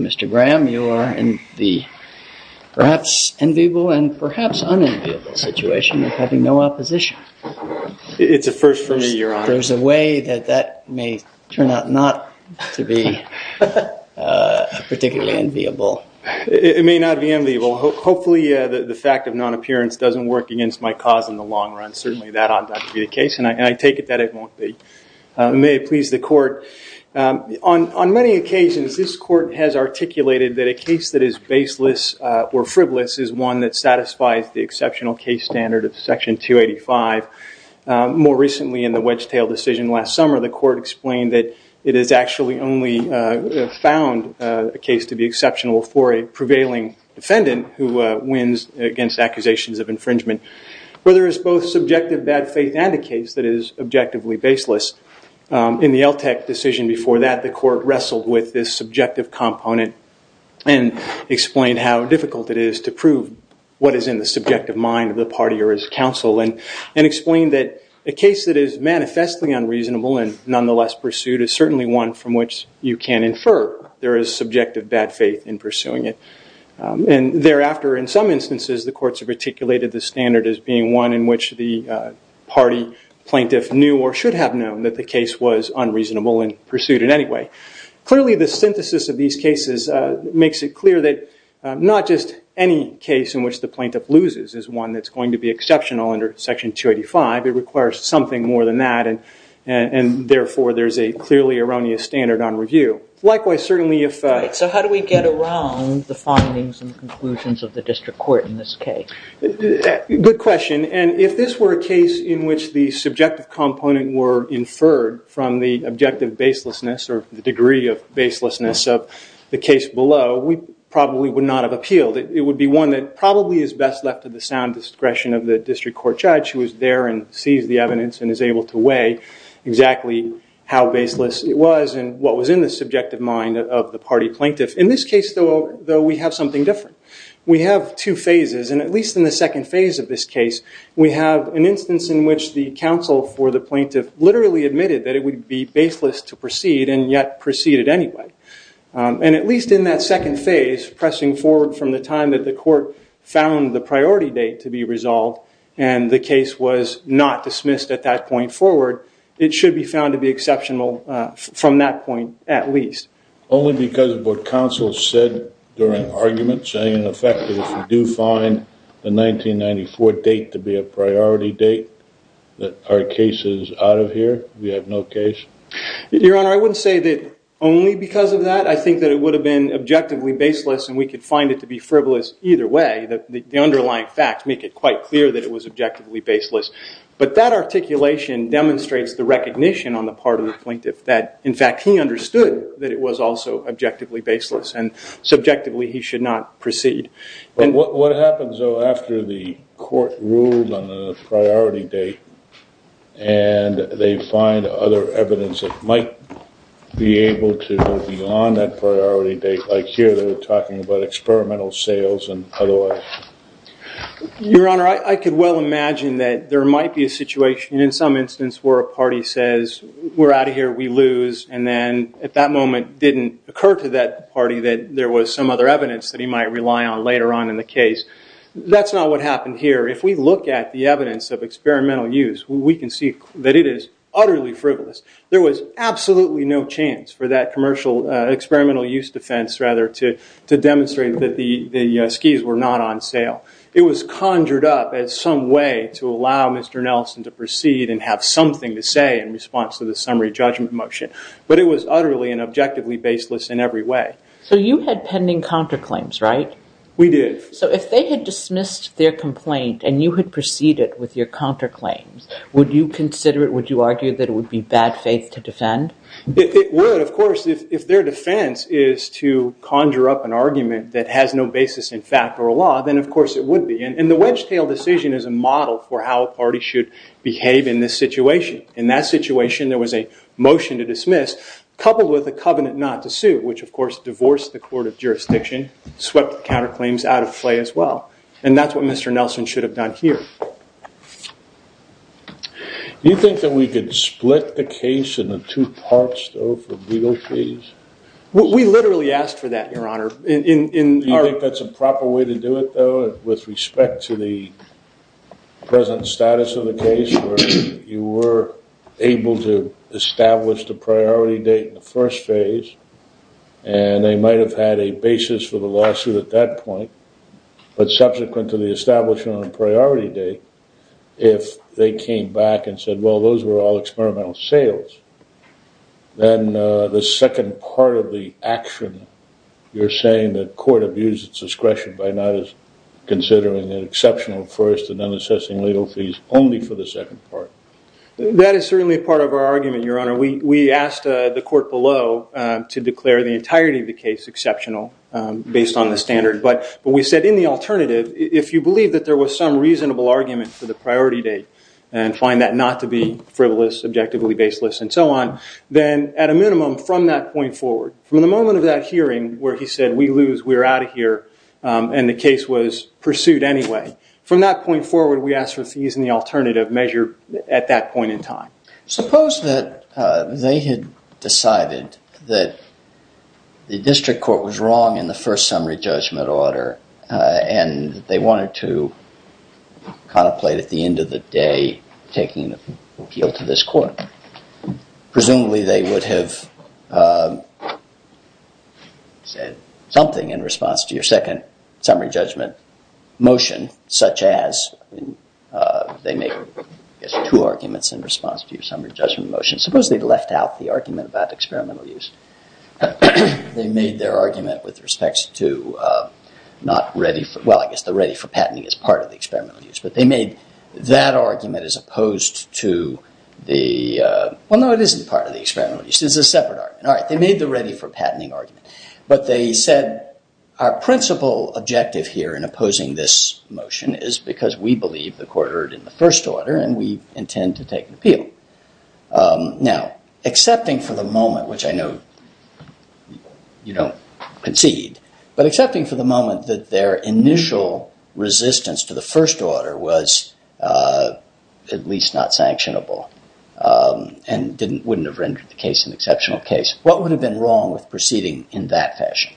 Mr. Graham, you are in the perhaps enviable and perhaps unenviable situation of having no opposition. It's a first for me, Your Honor. There's a way that that may turn out not to be particularly enviable. It may not be enviable. Hopefully, the fact of non-appearance doesn't work against my cause in the long run. Certainly, that ought not to be the case, and I take it that it won't be. May it please the Court. On many occasions, this Court has articulated that a case that is baseless or frivolous is one that satisfies the exceptional case standard of Section 285. More recently, in the Wedgetail decision last summer, the Court explained that it has actually only found a case to be exceptional for a prevailing defendant who wins against accusations of infringement, where there is both subjective bad faith and a case that is objectively baseless. In the Eltec decision before that, the Court wrestled with this subjective component and explained how difficult it is to prove what is in the subjective mind of the party or its counsel, and explained that a case that is manifestly unreasonable and nonetheless pursued is certainly one from which you can infer there is subjective bad faith in pursuing it. And thereafter, in some instances, the Courts have articulated the standard as being one in which the party plaintiff knew or should have known that the case was unreasonable and pursued in any way. Clearly, the synthesis of these cases makes it clear that not just any case in which the plaintiff loses is one that's going to be exceptional under Section 285. It requires something more than that. And therefore, there's a clearly erroneous standard on review. Likewise, certainly if- Right. So how do we get around the findings and conclusions of the district court in this case? Good question. And if this were a case in which the subjective component were inferred from the objective baselessness or the degree of baselessness of the case below, we probably would not have appealed. It would be one that probably is best left to the sound discretion of the district court judge who is there and sees the evidence and is able to weigh exactly how baseless it was and what was in the subjective mind of the party plaintiff. In this case, though, we have something different. We have two phases. And at least in the second phase of this case, we have an instance in which the counsel for the plaintiff literally admitted that it would be baseless to proceed and yet proceeded anyway. And at least in that second phase, pressing forward from the time that the court found the priority date to be resolved and the case was not dismissed at that point forward, it should be found to be exceptional from that point at least. Only because of what counsel said during argument, saying in effect that if we do find the 1994 date to be a priority date that our case is out of here, we have no case? Your Honor, I wouldn't say that only because of that. I think that it would have been objectively baseless and we could find it to be frivolous either way. The underlying facts make it quite clear that it was objectively baseless. But that articulation demonstrates the recognition on the part of the plaintiff that, in fact, he understood that it was also objectively baseless. And subjectively, he should not proceed. What happens, though, after the court ruled on the priority date and they find other evidence that might be able to go beyond that priority date? Like here, they're talking about experimental sales and otherwise. Your Honor, I could well imagine that there might be a situation in some instance where a party says, we're out of here, we lose, and then at that moment didn't occur to that party that there was some other evidence that he might rely on later on in the case. That's not what happened here. If we look at the evidence of experimental use, we can see that it is utterly frivolous. There was absolutely no chance for that commercial experimental use defense, rather, to demonstrate that the skis were not on sale. It was conjured up as some way to allow Mr. Nelson to proceed and have something to say in response to the summary judgment motion. But it was utterly and objectively baseless in every way. So you had pending counterclaims, right? We did. So if they had dismissed their complaint and you had proceeded with your counterclaims, would you consider it, would you argue that it would be bad faith to defend? It would, of course. If their defense is to conjure up an argument that has no basis in fact or law, then of course it would be. And the wedge tail decision is a model for how a party should behave in this situation. In that situation, there was a motion to dismiss coupled with a covenant not to sue, which of course divorced the court of jurisdiction, swept the counterclaims out of play as well. And that's what Mr. Nelson should have done here. Do you think that we could split the case into two parts, though, for legal fees? We literally asked for that, Your Honor. Do you think that's a proper way to do it, though, with respect to the present status of the case where you were able to establish the priority date in the first phase? And they might have had a basis for the lawsuit at that point. But subsequent to the establishment on the priority date, if they came back and said, well, those were all experimental sales, then the second part of the action, you're saying that court abused its discretion by not considering an exceptional first and then assessing legal fees only for the second part. That is certainly a part of our argument, Your Honor. We asked the court below to declare the entirety of the case exceptional based on the standard. But we said in the alternative, if you believe that there was some reasonable argument for the priority date and find that not to be frivolous, objectively baseless, and so on, then at a minimum from that point forward, from the moment of that hearing where he said we lose, we're out of here, and the case was pursued anyway, from that point forward, we asked for fees in the alternative measure at that point in time. Suppose that they had decided that the district court was wrong in the first summary judgment order and they wanted to contemplate at the end of the day taking the appeal to this court. Presumably, they would have said something in response to your second summary judgment motion, such as they made two arguments in response to your summary judgment motion. Suppose they'd left out the argument about experimental use. They made their argument with respect to not ready for, well, I guess the ready for patenting is part of the experimental use. But they made that argument as opposed to the, well, no, it isn't part of the experimental use. It's a separate argument. All right, they made the ready for patenting argument. But they said our principal objective here in opposing this motion is because we believe the court erred in the first order and we intend to take an appeal. Now, accepting for the moment, which I know you don't concede, but accepting for the moment that their initial resistance to the first order was at least not sanctionable and wouldn't have rendered the case an exceptional case, what would have been wrong with proceeding in that fashion?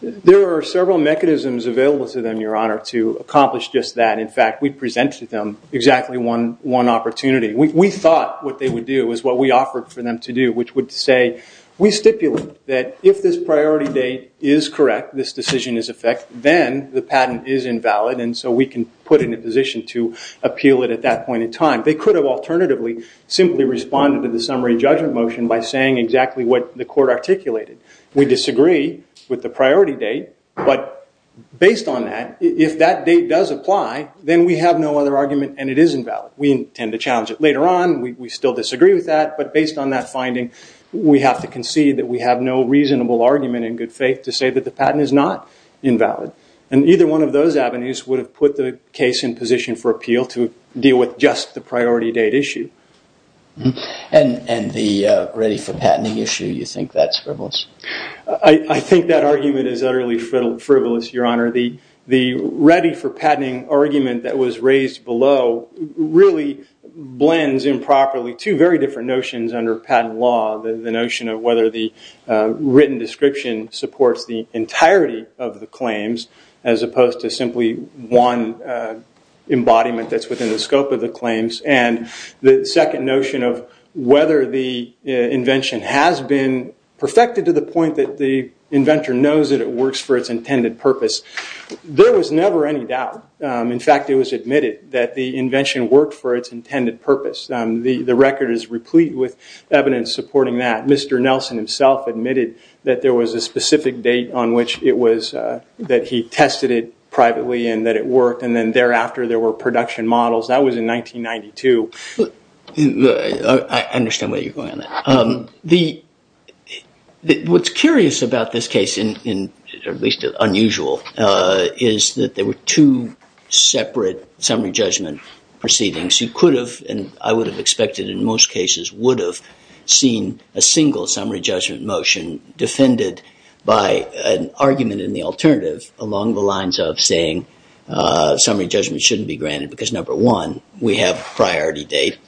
There are several mechanisms available to them, Your Honor, to accomplish just that. In fact, we presented them exactly one opportunity. We thought what they would do is what we offered for them to do, which would say we stipulate that if this priority date is correct, this decision is in effect, then the patent is invalid and so we can put it in a position to appeal it at that point in time. They could have alternatively simply responded to the summary judgment motion by saying exactly what the court articulated. We disagree with the priority date, but based on that, if that date does apply, then we have no other argument and it is invalid. We intend to challenge it later on. We still disagree with that. But based on that finding, we have to concede that we have no reasonable argument in good faith to say that the patent is not invalid. And either one of those avenues would have put the case in position for appeal to deal with just the priority date issue. And the ready for patenting issue, you think that's frivolous? I think that argument is utterly frivolous, Your Honor. The ready for patenting argument that was raised below really blends improperly two very different notions under patent law. The notion of whether the written description supports the entirety of the claims as opposed to simply one embodiment that's within the scope of the claims. And the second notion of whether the invention has been perfected to the point that the inventor knows that it works for its intended purpose. There was never any doubt. In fact, it was admitted that the invention worked for its intended purpose. The record is replete with evidence supporting that. Mr. Nelson himself admitted that there was a specific date on which it was, that he tested it privately and that it worked, and then thereafter there were production models. That was in 1992. I understand where you're going on that. What's curious about this case, or at least unusual, is that there were two separate summary judgment proceedings. You could have, and I would have expected in most cases, would have seen a single summary judgment motion defended by an argument in the alternative along the lines of saying summary judgment shouldn't be granted because number one, we have priority date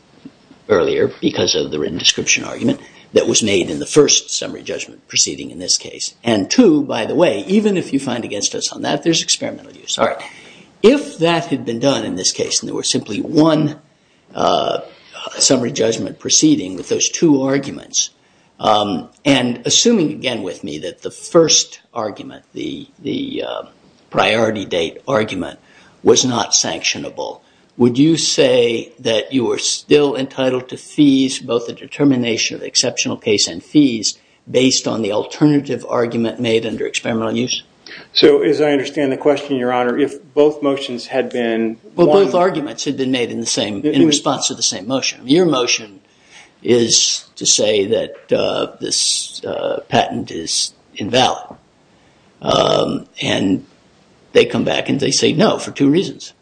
earlier because of the written description argument that was made in the first summary judgment proceeding in this case. And two, by the way, even if you find against us on that, there's experimental use. If that had been done in this case and there was simply one summary judgment proceeding with those two arguments, and assuming again with me that the first argument, the priority date argument, was not sanctionable, would you say that you were still entitled to fees, both the determination of the exceptional case and fees, based on the alternative argument made under experimental use? As I understand the question, Your Honor, if both motions had been... Both arguments had been made in response to the same motion. Your motion is to say that this patent is invalid. And they come back and they say no for two reasons.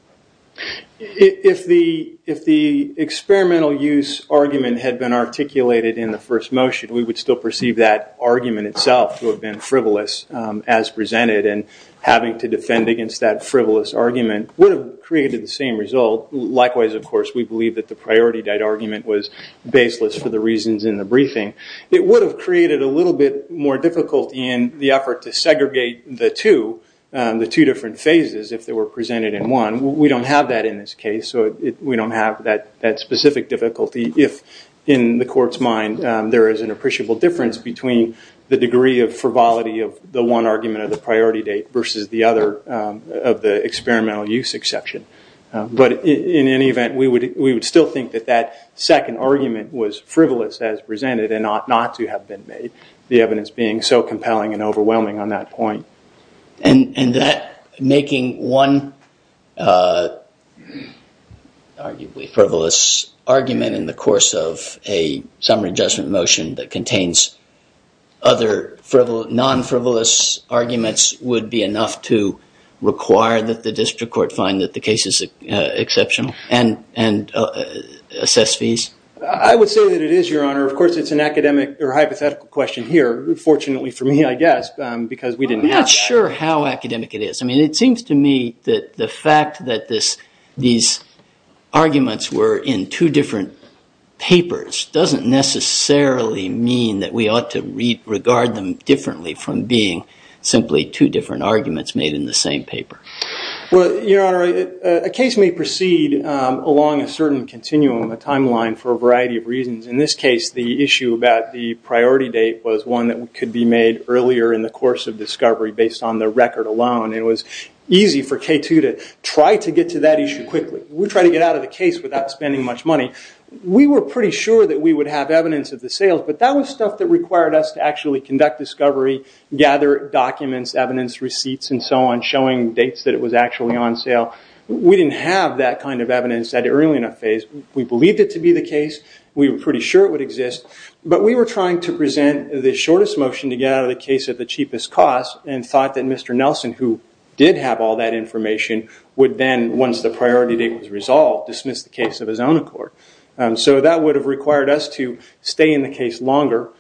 If the experimental use argument had been articulated in the first motion, we would still perceive that argument itself to have been frivolous as presented, and having to defend against that frivolous argument would have created the same result. Likewise, of course, we believe that the priority date argument was baseless for the reasons in the briefing. It would have created a little bit more difficulty in the effort to segregate the two, the two different phases, if they were presented in one. We don't have that in this case, so we don't have that specific difficulty, if in the Court's mind there is an appreciable difference between the degree of frivolity of the one argument of the priority date versus the other of the experimental use exception. But in any event, we would still think that that second argument was frivolous as presented and not to have been made, the evidence being so compelling and overwhelming on that point. And that making one arguably frivolous argument in the course of a summary judgment motion that contains other non-frivolous arguments would be enough to require that the District Court find that the case is exceptional and assess fees. I would say that it is, Your Honor. Of course, it's an academic or hypothetical question here, fortunately for me, I guess, because we didn't have that. I'm not sure how academic it is. I mean, it seems to me that the fact that these arguments were in two different papers doesn't necessarily mean that we ought to regard them differently from being simply two different arguments made in the same paper. Well, Your Honor, a case may proceed along a certain continuum, a timeline, for a variety of reasons. In this case, the issue about the priority date was one that could be made earlier in the course of discovery based on the record alone. It was easy for K2 to try to get to that issue quickly. We tried to get out of the case without spending much money. We were pretty sure that we would have evidence of the sales, but that was stuff that required us to actually conduct discovery, gather documents, evidence, receipts, and so on, showing dates that it was actually on sale. We didn't have that kind of evidence at an early enough phase. We believed it to be the case. We were pretty sure it would exist, but we were trying to present the shortest motion to get out of the case at the cheapest cost and thought that Mr. Nelson, who did have all that information, would then, once the priority date was resolved, dismiss the case of his own accord. That would have required us to stay in the case longer,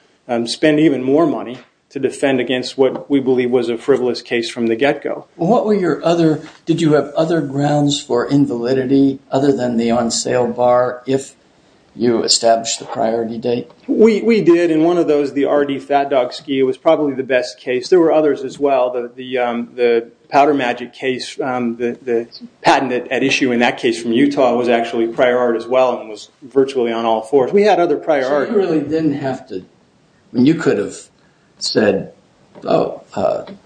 spend even more money to defend against what we believe was a frivolous case from the get-go. What were your other – did you have other grounds for invalidity other than the on-sale bar, if you established the priority date? We did, and one of those, the RD Fat Dog Ski, was probably the best case. There were others as well. The Powder Magic case, the patent at issue in that case from Utah, was actually prior art as well and was virtually on all fours. We had other prior art. So you really didn't have to – you could have said, well –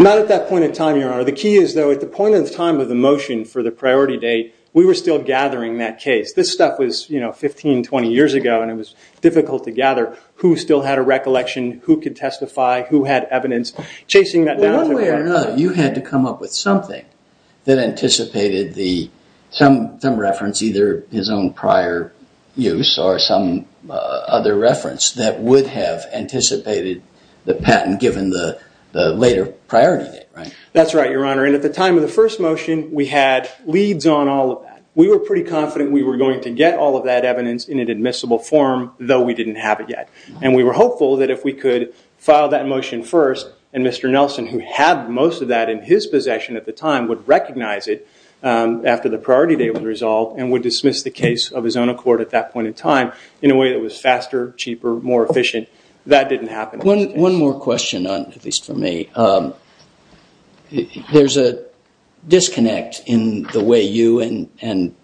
Not at that point in time, Your Honor. The key is, though, at the point in time of the motion for the priority date, we were still gathering that case. This stuff was 15, 20 years ago, and it was difficult to gather who still had a recollection, who could testify, who had evidence, chasing that down. One way or another, you had to come up with something that anticipated some reference, either his own prior use or some other reference that would have anticipated the patent given the later priority date, right? That's right, Your Honor. At the time of the first motion, we had leads on all of that. We were pretty confident we were going to get all of that evidence in an admissible form, though we didn't have it yet. And we were hopeful that if we could file that motion first, and Mr. Nelson, who had most of that in his possession at the time, would recognize it after the priority date was resolved and would dismiss the case of his own accord at that point in time in a way that was faster, cheaper, more efficient. That didn't happen. One more question, at least for me. There's a disconnect in the way you and,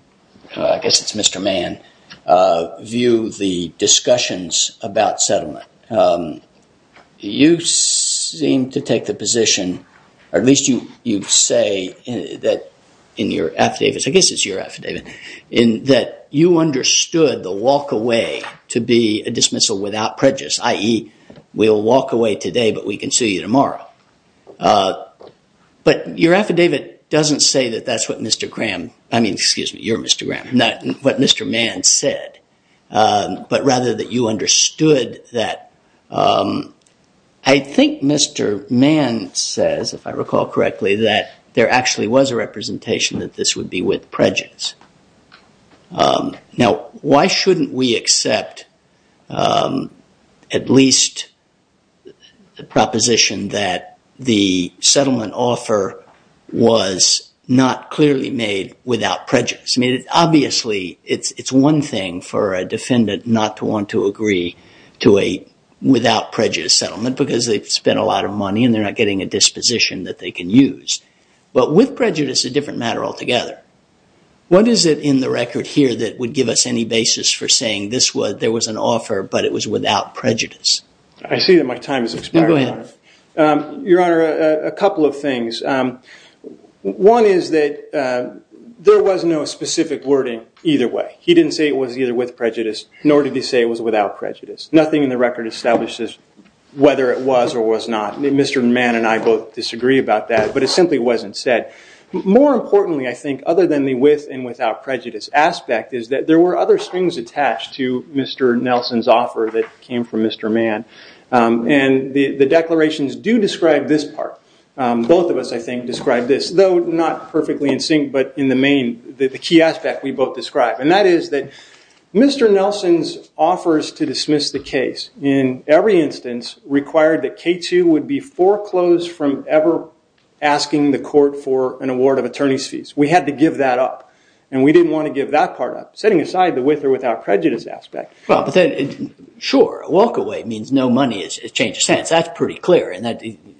I guess it's Mr. Mann, view the discussions about settlement. You seem to take the position, or at least you say that in your affidavits, I guess it's your affidavit, in that you understood the walk away to be a dismissal without prejudice, i.e., we'll walk away today, but we can see you tomorrow. But your affidavit doesn't say that that's what Mr. Graham, I mean, excuse me, you're Mr. Graham, not what Mr. Mann said, but rather that you understood that. I think Mr. Mann says, if I recall correctly, that there actually was a representation that this would be with prejudice. Now, why shouldn't we accept at least the proposition that the settlement offer was not clearly made without prejudice? I mean, obviously, it's one thing for a defendant not to want to agree to a without prejudice settlement because they've spent a lot of money and they're not getting a disposition that they can use. But with prejudice, it's a different matter altogether. What is it in the record here that would give us any basis for saying there was an offer, but it was without prejudice? I see that my time has expired, Your Honor. Go ahead. Your Honor, a couple of things. One is that there was no specific wording either way. He didn't say it was either with prejudice, nor did he say it was without prejudice. Nothing in the record establishes whether it was or was not. Mr. Mann and I both disagree about that, but it simply wasn't said. More importantly, I think, other than the with and without prejudice aspect, is that there were other strings attached to Mr. Nelson's offer that came from Mr. Mann. And the declarations do describe this part. Both of us, I think, describe this, though not perfectly in sync, but in the main, the key aspect we both describe. And that is that Mr. Nelson's offers to dismiss the case, in every instance, required that K2 would be foreclosed from ever asking the court for an award of attorney's fees. We had to give that up. And we didn't want to give that part up, setting aside the with or without prejudice aspect. Well, but then, sure, a walkaway means no money changes hands. That's pretty clear. And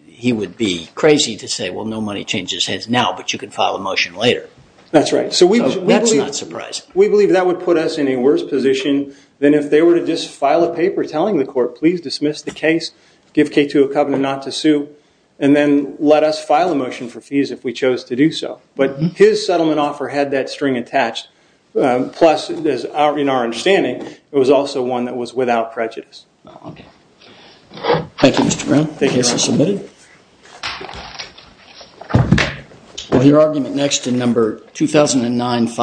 he would be crazy to say, well, no money changes hands now, but you can file a motion later. That's right. So that's not surprising. We believe that would put us in a worse position than if they were to just file a paper telling the court, please dismiss the case, give K2 a covenant not to sue, and then let us file a motion for fees if we chose to do so. But his settlement offer had that string attached. Plus, in our understanding, it was also one that was without prejudice. Oh, OK. Thank you, Mr. Brown. Thank you. The case is submitted. We'll hear argument next in number 2009-5.